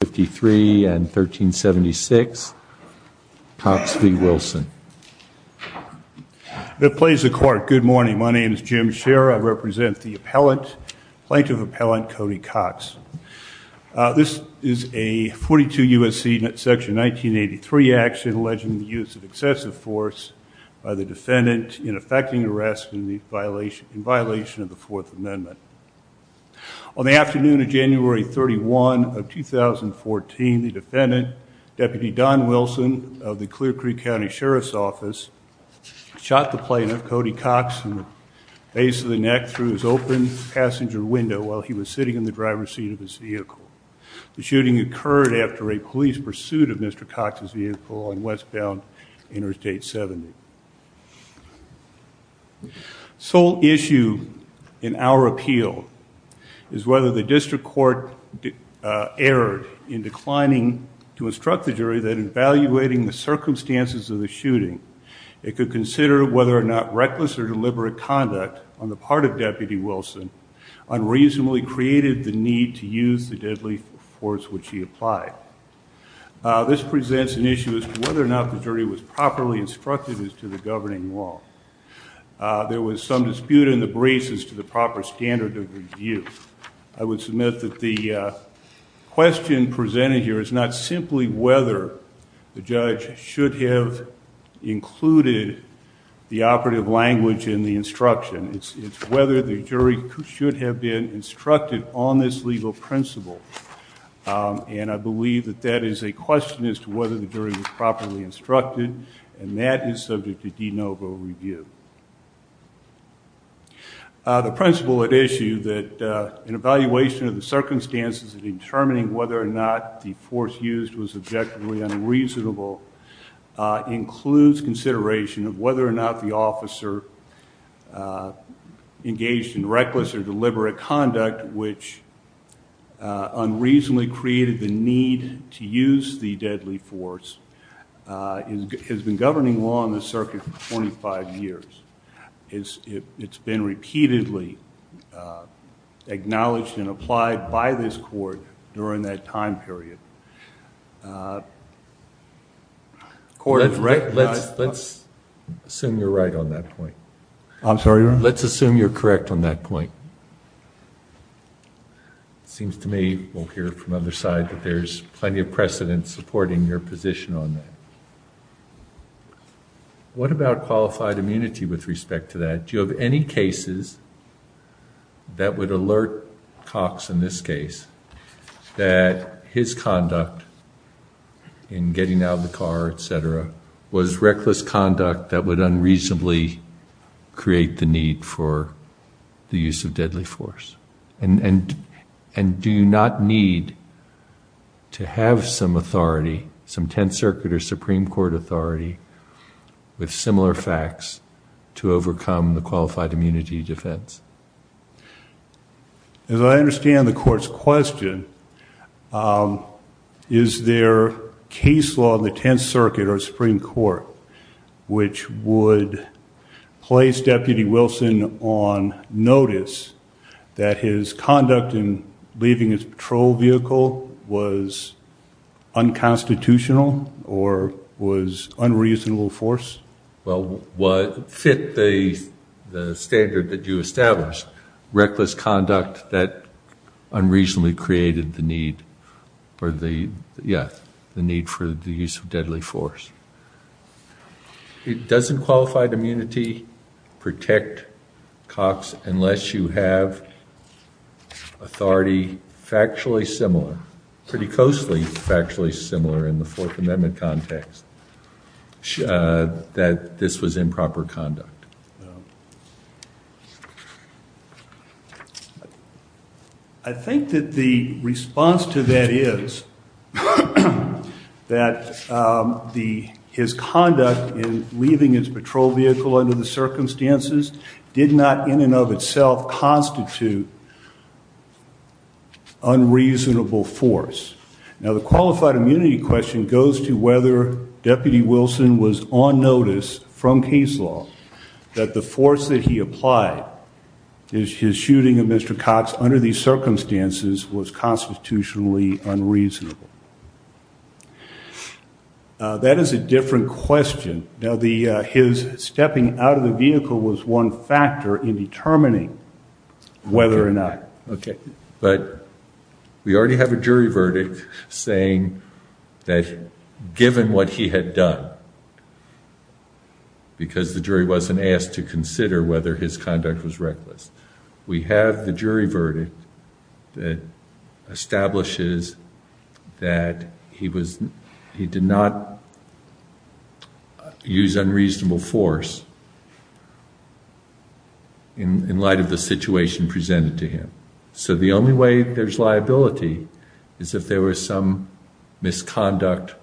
Good morning. My name is Jim Scherer. I represent the plaintiff appellant, Cody Cox. This is a 42 U.S.C. section 1983 action alleging the use of excessive force by the defendant in effecting arrest in violation of the Fourth Amendment. On the afternoon of January 31 of 2014, the defendant, Deputy Don Wilson of the Clear Creek County Sheriff's Office, shot the plaintiff, Cody Cox, in the face of the neck through his open passenger window while he was sitting in the driver's seat of his vehicle. The shooting occurred after a police pursuit of Mr. Cox's vehicle on westbound Interstate 70. The sole issue in our appeal is whether the district court erred in declining to instruct the jury that in evaluating the circumstances of the shooting, it could consider whether or not reckless or deliberate conduct on the part of Deputy Wilson unreasonably created the need to use the deadly force which he applied. This presents an issue as to whether or not the jury was properly instructed as to the governing law. There was some dispute in the braces to the proper standard of review. I would submit that the question presented here is not simply whether the judge should have included the operative language in the instruction. It's whether the jury should have been instructed on this legal principle. And I believe that that is a question as to whether the jury was properly instructed, and that is subject to de novo review. The principle at issue that an evaluation of the circumstances of determining whether or not the force used was objectively unreasonable includes consideration of whether or not the deliberate conduct which unreasonably created the need to use the deadly force has been governing law in the circuit for 25 years. It's been repeatedly acknowledged and applied by this court during that time period. Let's assume you're correct on that point. It seems to me, we'll hear from the other side, that there's plenty of precedent supporting your position on that. What about qualified immunity with respect to that? Do you have any cases that would alert Cox in this case that his conduct in getting out of the car, etc., was reckless conduct that would unreasonably create the need for the use of deadly force? And do you not need to have some authority, some Tenth Circuit or Supreme Court authority with similar facts to overcome the qualified immunity defense? As I understand the court's question, is there case law in the Tenth Circuit or Supreme Court which would place Deputy Wilson on notice that his conduct in leaving his patrol vehicle was unconstitutional or was unreasonable force? Well, what fit the standard that you established, reckless conduct that unreasonably created the need for the use of deadly force? It doesn't qualified immunity protect Cox unless you have authority factually similar, pretty closely factually similar in the Fourth Amendment context that this was improper conduct. I think that the response to that is that his conduct in leaving his patrol vehicle under the circumstances did not in and of itself constitute unreasonable force. Now the question is that the force that he applied, his shooting of Mr. Cox under these circumstances was constitutionally unreasonable. That is a different question. Now his stepping out of the vehicle was one factor in determining whether or not. Okay, but we already have a jury verdict saying that given what he had done, because the jury has to consider whether his conduct was reckless. We have the jury verdict that establishes that he did not use unreasonable force in light of the situation presented to him. So the only way there's liability is if there was some misconduct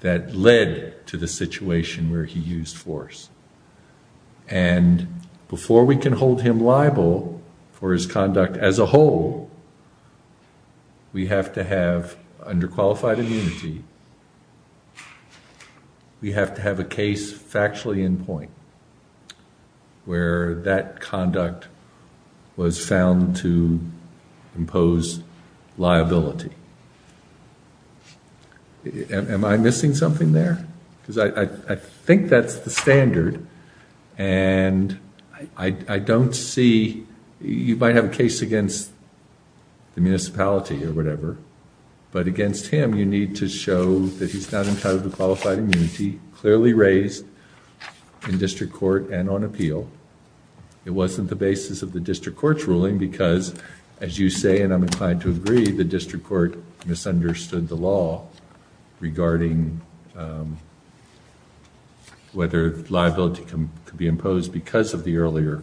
that led to the situation where he used force. And before we can hold him liable for his conduct as a whole, we have to have under qualified immunity, we have to have a case factually in point where that conduct was found to impose liability. Am I missing something there? Because I think that's the standard and I don't see, you might have a case against the municipality or whatever, but against him you need to show that he's not entitled to qualified immunity, clearly raised in district court and on appeal. It wasn't the basis of the district court's ruling because as you say and I'm inclined to agree, the district court misunderstood the law regarding whether liability could be imposed because of the earlier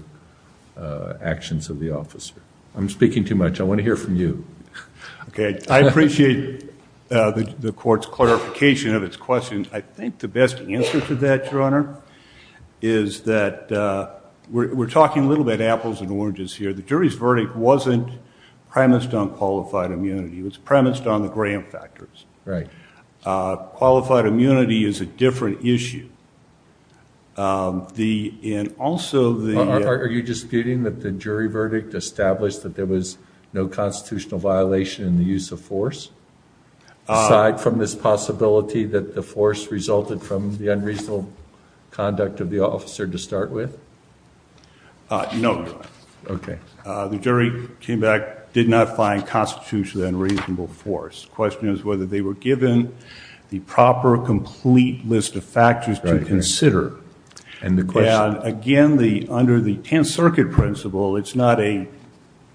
actions of the officer. I'm speaking too much. I want to hear from you. Okay. I appreciate the court's clarification of its question. I think the best answer to that, Your Honor, is that we're talking a little bit apples and oranges here. The jury's verdict wasn't premised on qualified immunity. It was premised on the Graham factors. Qualified immunity is a different issue. Are you disputing that the jury verdict established that there was no constitutional violation in the use of force aside from this possibility that the force resulted from the unreasonable conduct of the officer to start with? No, Your Honor. The jury came back, did not find constitutionally unreasonable force. The question is whether they were given the proper, complete list of factors to consider. And again, under the Tenth Circuit principle, it's not a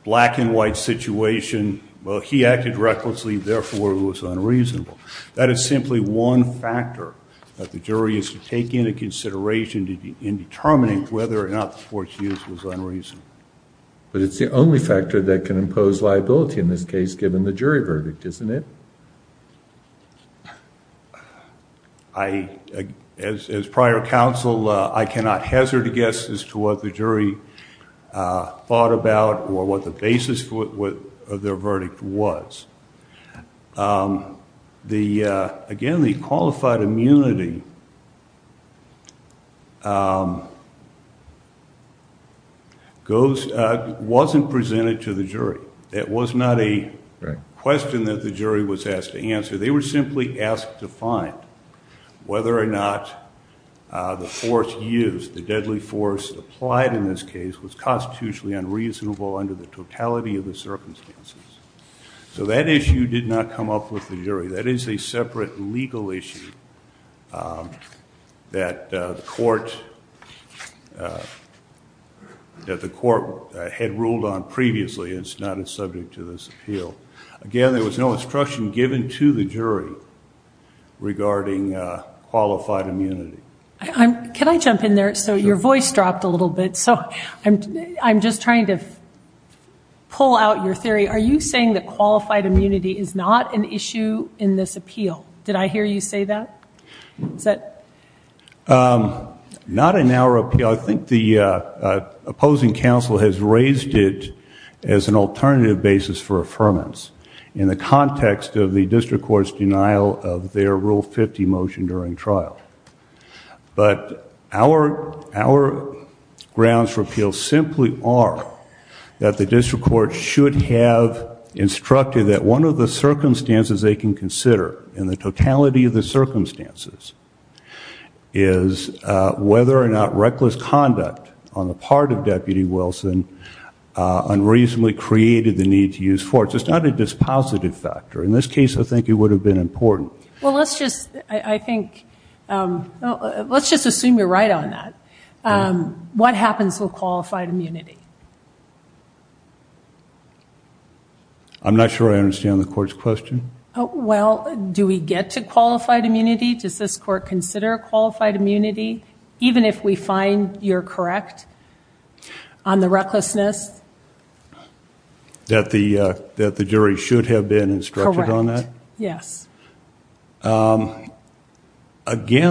black and white situation. Well, he acted recklessly, therefore it was unreasonable. That is simply one factor that the jury is to take into consideration in determining whether or not the force used was unreasonable. But it's the only factor that can impose liability in this case given the jury verdict, isn't it? As prior counsel, I cannot hazard a guess as to what the jury thought about or what the basis of their verdict was. Again, the qualified immunity wasn't presented to the jury. It was not a question that the jury was asked to answer. They were simply asked to find whether or not the force used, the deadly force applied in this case was constitutionally unreasonable under the totality of the circumstances. So that issue did not come up with the jury. That is a separate legal issue that the court had ruled on prior to this appeal. Again, there was no instruction given to the jury regarding qualified immunity. Can I jump in there? So your voice dropped a little bit. So I'm just trying to pull out your theory. Are you saying that qualified immunity is not an issue in this appeal? Did I hear you say that? Not in our appeal. I think the opposing counsel has raised it as an alternative basis for affirmance in the context of the district court's denial of their Rule 50 motion during trial. But our grounds for appeal simply are that the district court should have instructed that one of the circumstances they can consider in the totality of the circumstances is whether or not reckless conduct on the part of Deputy Wilson unreasonably created the need to use force. It's not a dispositive factor. In this case, I think it would have been important. Well, let's just, I think, let's just assume you're right on that. What happens with qualified immunity? Do I understand the court's question? Well, do we get to qualified immunity? Does this court consider qualified immunity? Even if we find you're correct on the recklessness? That the jury should have been instructed on that? Correct. Yes. Again,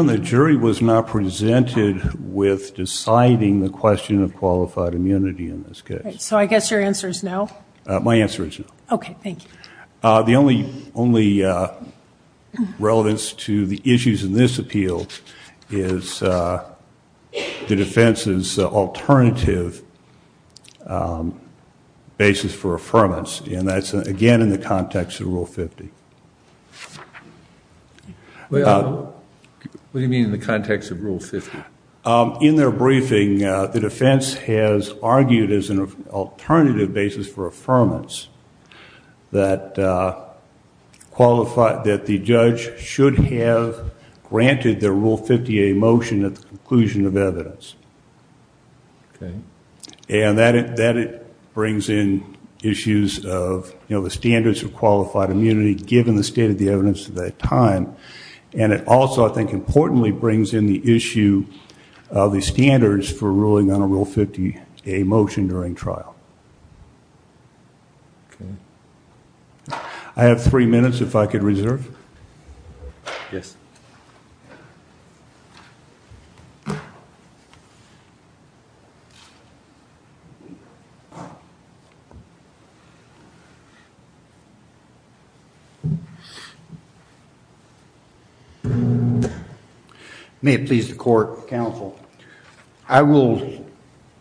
the jury was not presented with deciding the question of qualified immunity in this case. So I guess your answer is no? My answer is no. Okay, thank you. The only relevance to the issues in this appeal is the defense's alternative basis for affirmance, and that's again in the context of Rule 50. What do you mean in the context of Rule 50? In their briefing, the defense has argued as an alternative basis for affirmance that qualified, that the judge should have granted the Rule 50A motion at the conclusion of evidence. Okay. And that it brings in issues of, you know, the standards of qualified immunity given the state of the evidence at that time. And it also, I think, importantly brings in the issue of the standards for ruling on a Rule 50A motion during trial. I have three minutes if I could reserve. Yes. May it please the court, counsel. I will,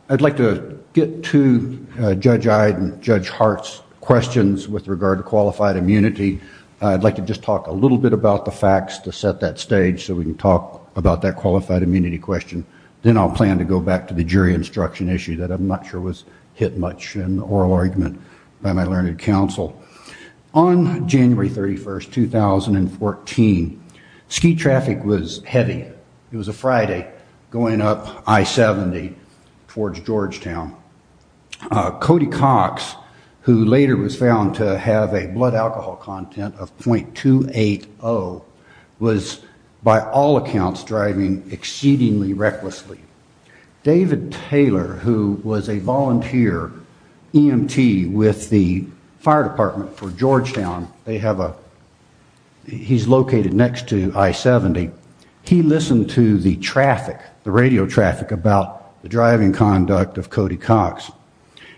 I'd like to get to Judge Ide and Judge Hart's questions with regard to qualified immunity. I'd like to just talk a little bit about the statute at that stage so we can talk about that qualified immunity question. Then I'll plan to go back to the jury instruction issue that I'm not sure was hit much in the oral argument by my learned counsel. On January 31st, 2014, ski traffic was heavy. It was a Friday going up I-70 towards Georgetown. Cody Cox, who later was found to have a blood alcohol content of .280, was by all accounts driving exceedingly recklessly. David Taylor, who was a volunteer EMT with the fire department for Georgetown, they have a, he's located next to I-70. He listened to the traffic, the radio traffic about the driving conduct of Cody Cox.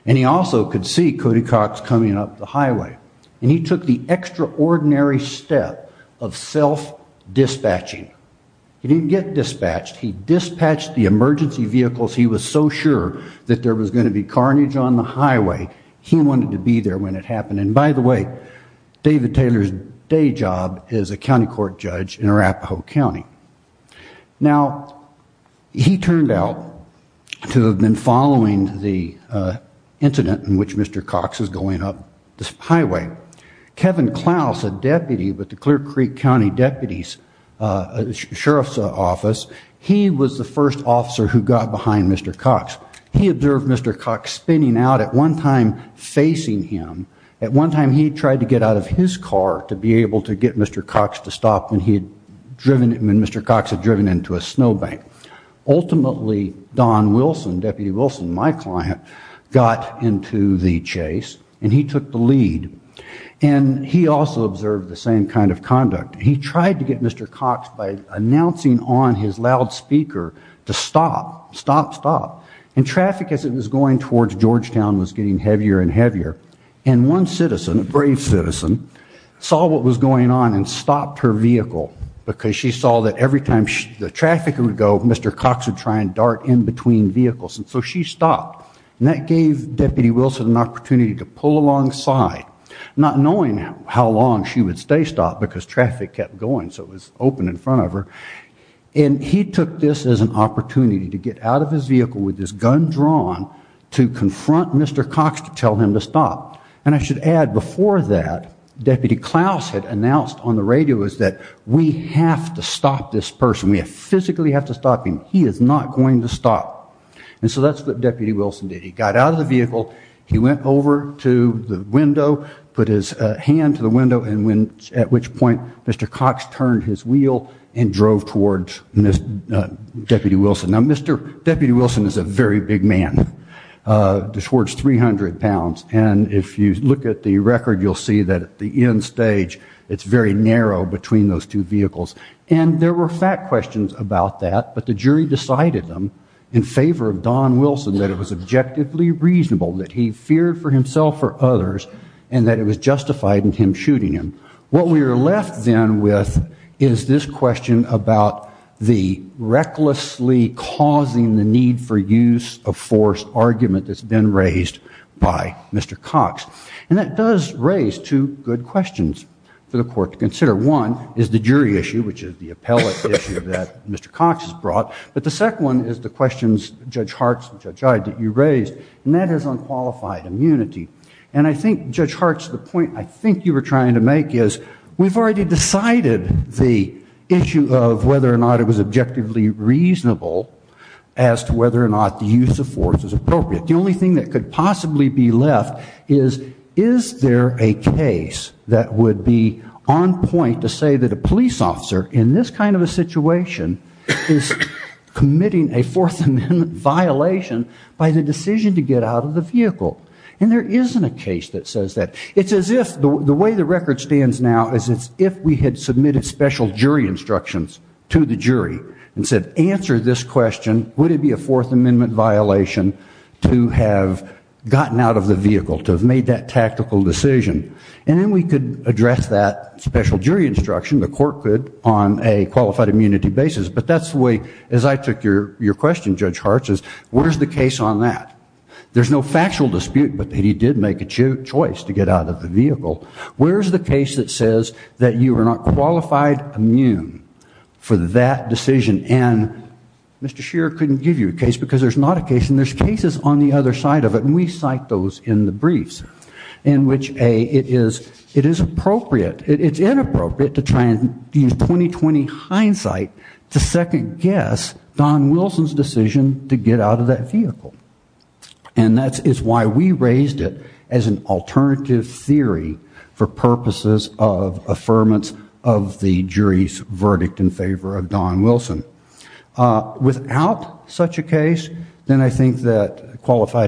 He also could see Cody Cox coming up the highway. He took the extraordinary step of self-dispatching. He didn't get dispatched. He dispatched the emergency vehicles he was so sure that there was going to be carnage on the highway. He wanted to be there when it happened. By the way, David Taylor's day job is a county court judge in Arapahoe County. Now, he turned out to have been following the incident in which Mr. Cox was going up this highway. Kevin Klaus, a deputy with the Clear Creek County Deputy Sheriff's Office, he was the first officer who got behind Mr. Cox. He observed Mr. Cox spinning out at one time facing him. At one time he tried to get out of his car to be able to get Mr. Cox to drive into a snow bank. Ultimately, Don Wilson, Deputy Wilson, my client, got into the chase and he took the lead. He also observed the same kind of conduct. He tried to get Mr. Cox by announcing on his loudspeaker to stop, stop, stop. Traffic as it was going towards Georgetown was getting heavier and heavier. One citizen, a brave citizen, saw what was happening. Every time the traffic would go, Mr. Cox would try and dart in between vehicles. So she stopped. That gave Deputy Wilson an opportunity to pull alongside, not knowing how long she would stay stopped because traffic kept going so it was open in front of her. He took this as an opportunity to get out of his vehicle with his gun drawn to confront Mr. Cox to tell him to stop. I should add, before that, Deputy Klaus had announced on this person, we physically have to stop him. He is not going to stop. And so that's what Deputy Wilson did. He got out of the vehicle, he went over to the window, put his hand to the window at which point Mr. Cox turned his wheel and drove towards Deputy Wilson. Now Mr. Deputy Wilson is a very big man, just towards 300 pounds. And if you look at the record you'll see that at the end stage it's very narrow between those two vehicles. And there were fact questions about that, but the jury decided them in favor of Don Wilson, that it was objectively reasonable, that he feared for himself or others, and that it was justified in him shooting him. What we are left then with is this question about the recklessly causing the need for use of force argument that's been raised by Mr. Cox. And that does raise two good questions for the court to consider. One is the jury issue, which is the appellate issue that Mr. Cox has brought. But the second one is the questions Judge Hartz and Judge Iyed that you raised, and that is on qualified immunity. And I think Judge Hartz, the point I think you were trying to make is, we've already decided the issue of whether or not it was objectively reasonable as to whether or not the use of force is appropriate. The only thing that could possibly be left is, is there a case that would be on point to say that a police officer, in this kind of a situation, is committing a Fourth Amendment violation by the decision to get out of the vehicle. And there isn't a case that says that. It's as if, the way the record stands now, is it's if we had submitted special jury instructions to the jury and said, answer this question, would it be a Fourth Amendment violation to have gotten out of the vehicle, to have made that tactical decision? And then we could address that special jury instruction, the court could, on a qualified immunity basis. But that's the way, as I took your question, Judge Hartz, is where's the case on that? There's no factual dispute that he did make a choice to get out of the vehicle. Where's the case that says that you are not qualified immune for that decision? And Mr. Shearer couldn't give you a case because there's not a case, and there's cases on the other side of it, and we cite those in the briefs, in which, A, it is appropriate, it's inappropriate to try and use 20-20 hindsight to second guess Don Wilson's decision to get out of that vehicle. And that is why we raised it as an alternative theory for purposes of affirmance of the jury's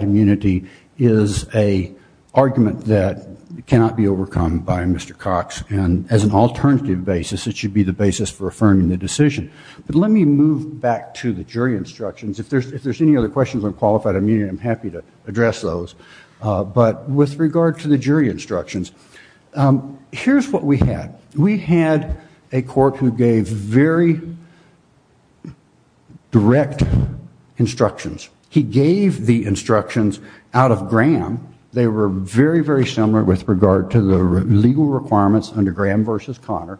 immunity is an argument that cannot be overcome by Mr. Cox. And as an alternative basis, it should be the basis for affirming the decision. But let me move back to the jury instructions. If there's any other questions on qualified immunity, I'm happy to address those. But with regard to the jury instructions, here's what we had. We had a court who gave very direct instructions. He gave the instructions out of Graham. They were very, very similar with regard to the legal requirements under Graham v. Connor.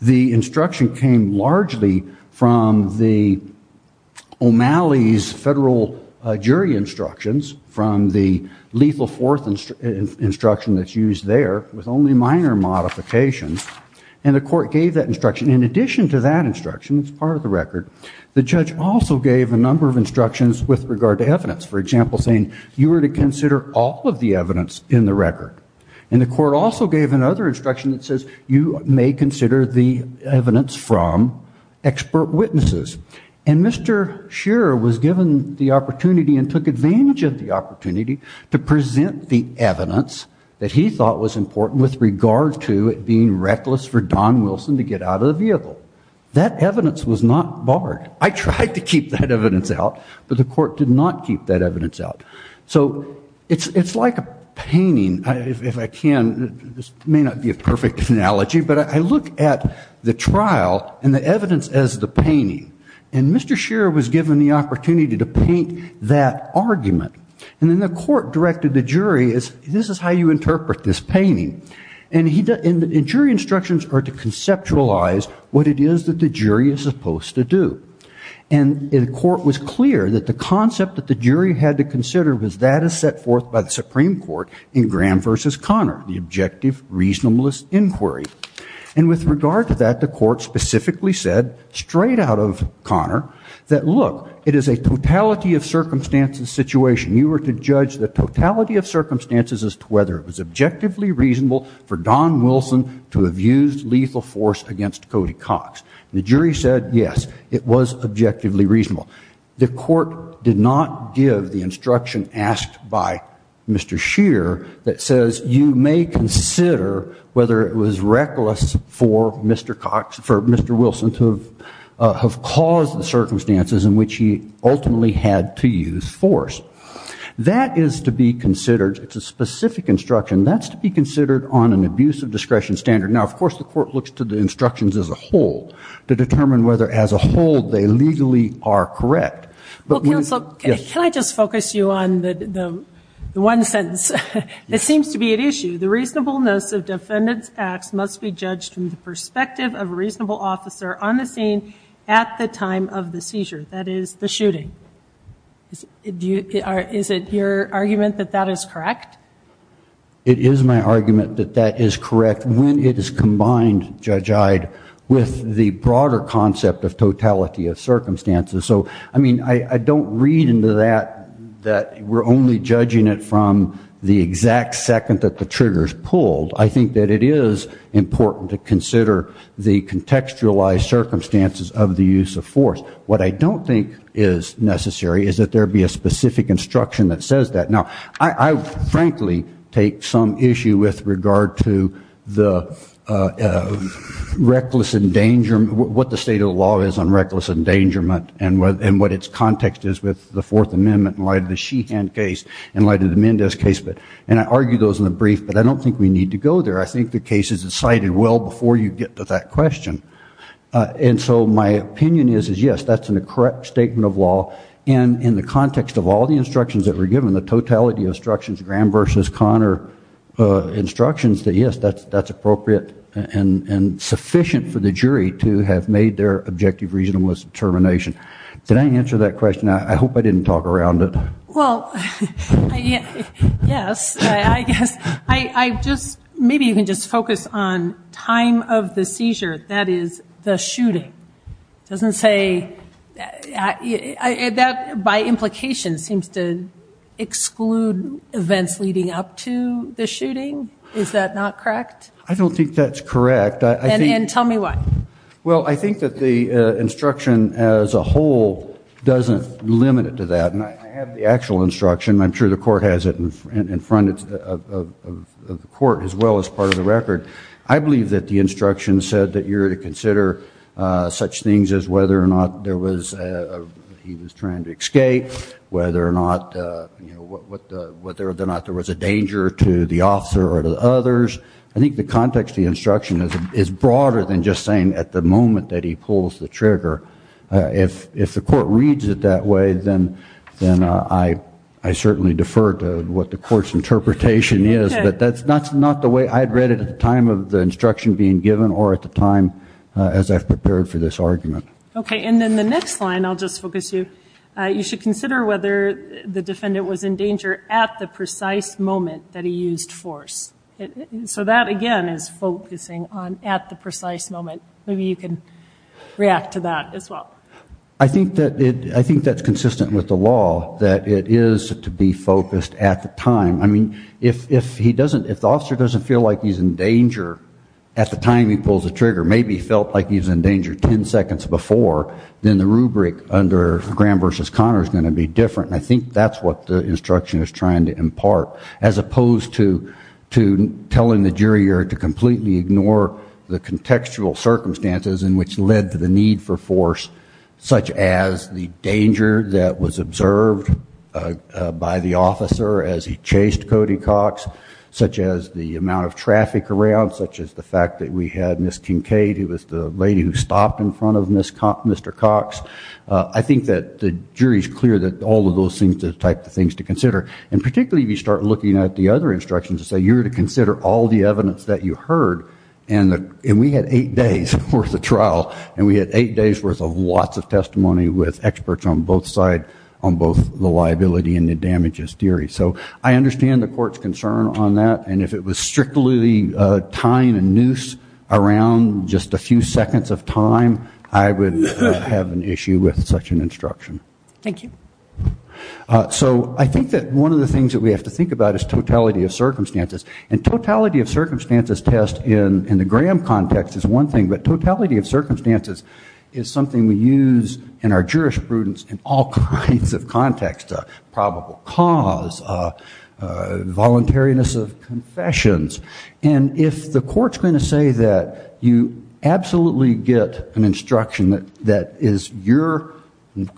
The instruction came largely from the O'Malley's federal jury instructions from the lethal fourth instruction that's used there with only minor modifications. And the court gave that instruction. In addition to that instruction, it's part of the record, the judge also gave a number of instructions with regard to evidence. For example, saying you were to consider all of the evidence in the record. And the court also gave another instruction that says you may consider the evidence from expert witnesses. And Mr. Shearer was given the opportunity and took advantage of the opportunity to present the evidence that he thought was important with regard to it being reckless for Don Wilson to get out of the vehicle. That evidence was not barred. I tried to keep that evidence out, but the court did not keep that evidence out. So it's like a painting, if I can, this may not be a perfect analogy, but I look at the trial and the evidence as the painting. And Mr. Shearer was given the opportunity to paint that argument. And then the court directed the jury, this is how you interpret this painting. And jury instructions are to conceptualize what it is that the jury is supposed to do. And the court was clear that the concept that the jury had to consider was that as set forth by the Supreme Court in Graham v. Connor, the objective reasonableness inquiry. And with regard to that, the court specifically said, straight out of Connor, that look, it is a totality of circumstances situation. You were to judge the totality of circumstances as to whether it was objectively reasonable for Don Wilson to have used lethal force against Cody Cox. And the jury said, yes, it was objectively reasonable. The court did not give the instruction asked by Mr. Shearer that says, you may consider whether it was reckless for Mr. Cox, for Mr. Wilson to have caused the circumstances in which he ultimately had to use force. That is to be considered, it's a specific instruction, that's to be considered on an abuse of discretion standard. Now, of course, the court looks to the instructions as a whole to determine whether as a whole they legally are correct. Well, counsel, can I just focus you on the one sentence? It seems to be an issue. The reasonableness of defendant's acts must be judged from the perspective of a reasonable officer on the scene at the time of the seizure, that is, the shooting. Is it your argument that that is correct? It is my argument that that is correct when it is combined, Judge Ide, with the broader concept of totality of circumstances. So, I mean, I don't read into that that we're only judging it from the exact second that the trigger is pulled. I think that it is important to consider the contextualized circumstances of the use of force. What I don't think is necessary is that there be a specific instruction that says that. Now, I frankly take some issue with regard to the reckless endangerment, what the state of the law is on reckless endangerment and what its context is with the Fourth Amendment in light of the Sheehan case, in light of the Mendez case. And I argue those in the jury well before you get to that question. And so my opinion is, yes, that's a correct statement of law. And in the context of all the instructions that were given, the totality of instructions, Graham v. Connor instructions, that, yes, that's appropriate and sufficient for the jury to have made their objective reasonableness determination. Did I answer that question? I hope I didn't talk around it. Well, yes, I guess. I just, maybe you can just focus on time of the seizure, that is the shooting. Doesn't say, that by implication seems to exclude events leading up to the shooting. Is that not correct? I don't think that's correct. And tell me why. Well, I think that the instruction as a whole doesn't limit it to that. And I have the actual instruction. I'm sure the court has it in front of the court as well as part of the record. I believe that the instruction said that you're to consider such things as whether or not there was, he was trying to escape, whether or not there was a danger to the officer or to the others. I think the context of the instruction is broader than just saying at the moment that he pulls the trigger. If the court reads it that way, then I certainly defer to what the court's interpretation is. But that's not the way I'd read it at the time of the instruction being given or at the time as I've prepared for this argument. Okay. And then the next line, I'll just focus you, you should consider whether the defendant was in danger at the precise moment that he used force. So that, again, is focusing on at the precise moment. Maybe you can react to that as well. I think that's consistent with the law, that it is to be focused at the time. I mean, if the officer doesn't feel like he's in danger at the time he pulls the trigger, maybe he felt like he was in danger 10 seconds before, then the rubric under Graham v. Connor is going to be different. And I think that's what the instruction is trying to impart, as opposed to telling the jury or to completely ignore the contextual circumstances in which led to the need for force, such as the danger that was observed by the officer as he chased Cody Cox, such as the amount of traffic around, such as the fact that we had Ms. Kincaid, who was the lady who stopped in front of Mr. Cox. I think that the jury's clear that all of those things are the type of things to consider. And particularly if you start looking at the other instructions that say you're to consider all the evidence that you heard, and we had eight days' worth of trial, and we had eight days' worth of lots of testimony with experts on both sides, on both the liability and the damages theory. So I understand the court's concern on that, and if it was strictly tying a noose around just a few seconds of time, I would have an issue with such an instruction. Thank you. So I think that one of the things that we have to think about is totality of circumstances. And totality of circumstances test in the Graham context is one thing, but totality of circumstances is something we use in our jurisprudence in all kinds of contexts, probable cause, voluntariness of confessions. And if the court's going to say that you are absolutely get an instruction that is your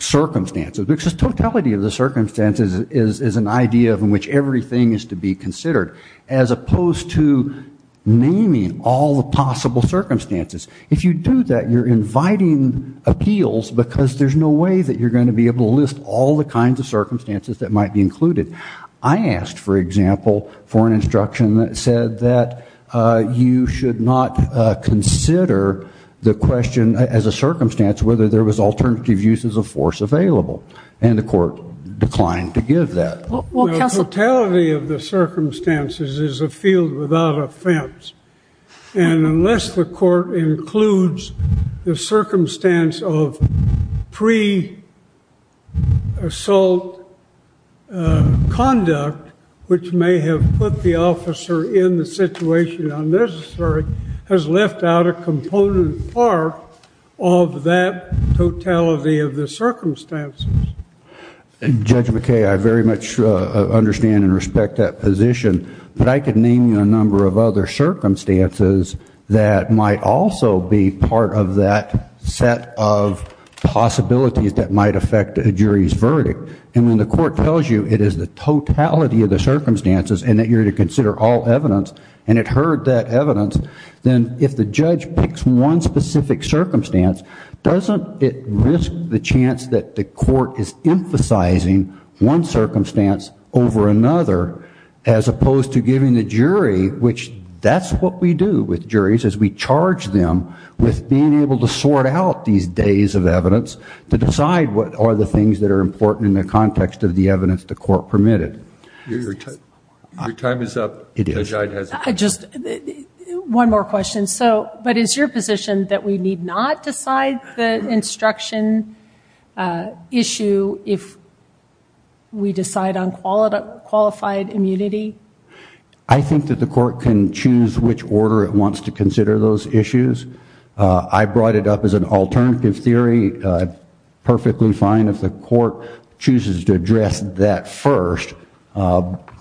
circumstances, because totality of the circumstances is an idea in which everything is to be considered, as opposed to naming all the possible circumstances. If you do that, you're inviting appeals because there's no way that you're going to be able to list all the kinds of circumstances that might be included. I asked, for example, for an instruction that said that you should not consider the question as a circumstance whether there was alternative uses of force available, and the court declined to give that. Well, counsel... Totality of the circumstances is a field without offense. And unless the court includes the conduct which may have put the officer in the situation unnecessary, has left out a component part of that totality of the circumstances. Judge McKay, I very much understand and respect that position, but I could name you a number of other circumstances that might also be part of that set of possibilities that might affect a jury's verdict. And when the court tells you it is the totality of the circumstances and that you're to consider all evidence, and it heard that evidence, then if the judge picks one specific circumstance, doesn't it risk the chance that the court is emphasizing one circumstance over another, as opposed to giving the jury, which that's what we do with juries, is we charge them with being able to sort out these days of evidence to explore the things that are important in the context of the evidence the court permitted. Your time is up. It is. One more question. So, but is your position that we need not decide the instruction issue if we decide on qualified immunity? I think that the court can choose which order it wants to consider those issues. I brought it up as an alternative theory. Perfectly fine if the court chooses to address that first,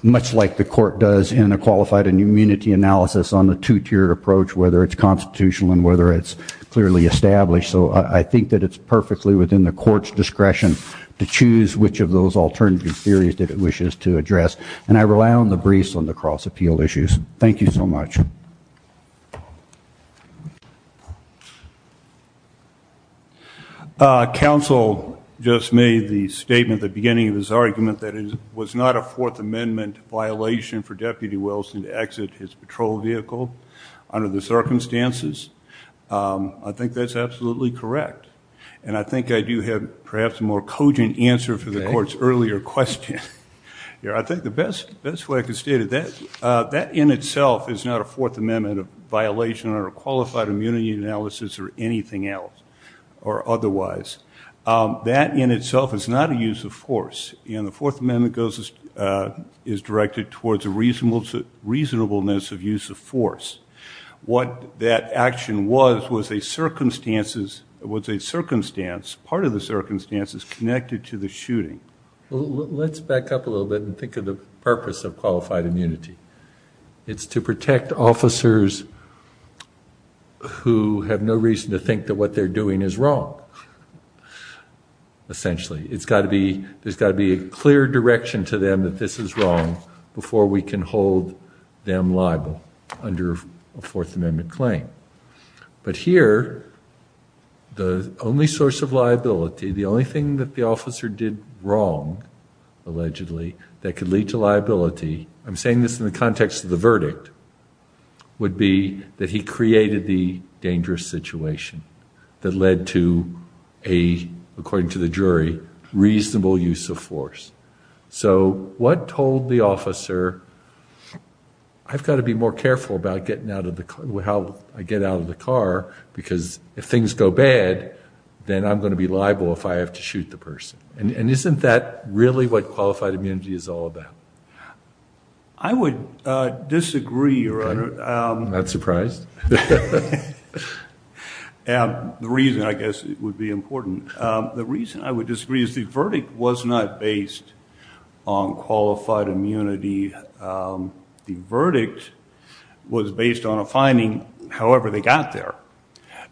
much like the court does in a qualified immunity analysis on the two-tiered approach, whether it's constitutional and whether it's clearly established. So I think that it's perfectly within the court's discretion to choose which of those alternative theories that it wishes to address. And I rely on the briefs on the cross-appeal issues. Thank you so much. Counsel just made the statement at the beginning of his argument that it was not a Fourth Amendment violation for Deputy Wilson to exit his patrol vehicle under the circumstances. I think that's absolutely correct. And I think I do have perhaps a more cogent answer for the court's earlier question. I think the best way I can state it, that in itself is not a Fourth Amendment violation or a qualified immunity analysis or anything else or otherwise. That in itself is not a use of force. And the Fourth Amendment is directed towards a reasonableness of use of force. What that action was, was a circumstance, part of the circumstance, is connected to the shooting. Let's back up a little bit and think of the purpose of qualified immunity. It's to protect officers who have no reason to think that what they're doing is wrong, essentially. It's got to be, there's got to be a clear direction to them that this is wrong before we can hold them liable under a Fourth Amendment claim. But here, the only source of liability, the only thing that the officer did wrong, allegedly, that could lead to liability, I'm not sure, would be that he created the dangerous situation that led to a, according to the jury, reasonable use of force. So what told the officer, I've got to be more careful about getting out of the car, how I get out of the car, because if things go bad, then I'm going to be liable if I have to shoot the person. And isn't that really what qualified immunity is all about? I would disagree, Your Honor. Okay. I'm not surprised. The reason, I guess, would be important. The reason I would disagree is the verdict was not based on qualified immunity. The verdict was based on a finding, however they got there,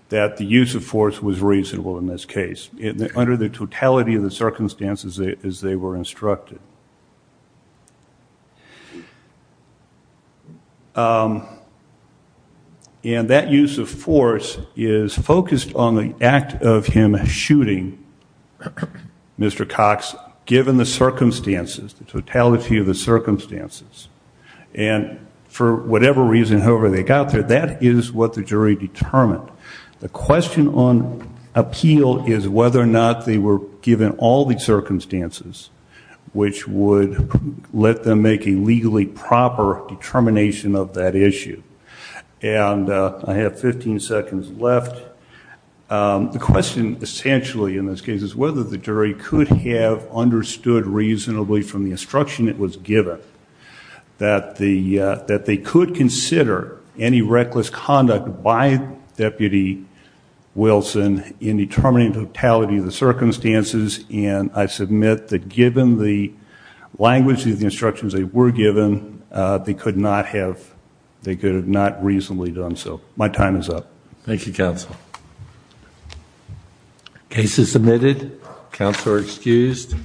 that the use of force was reasonable in this case, under the totality of the circumstances as they were instructed. And that use of force is focused on the act of him shooting Mr. Cox, given the circumstances, the totality of the circumstances. And for whatever reason, however they got there, that is what the jury determined. The question on appeal is whether or not they were given all the circumstances which would let them make a legally proper determination of that issue. And I have 15 seconds left. The question essentially in this case is whether the jury could have understood reasonably from the instruction that was given that they could consider any reckless conduct by Deputy Wilson in determining totality of the circumstances and I submit that given the language of the instructions they were given, they could not have, they could have not reasonably done so. My time is up. Thank you, Counsel. Case is submitted. Counsel are excused.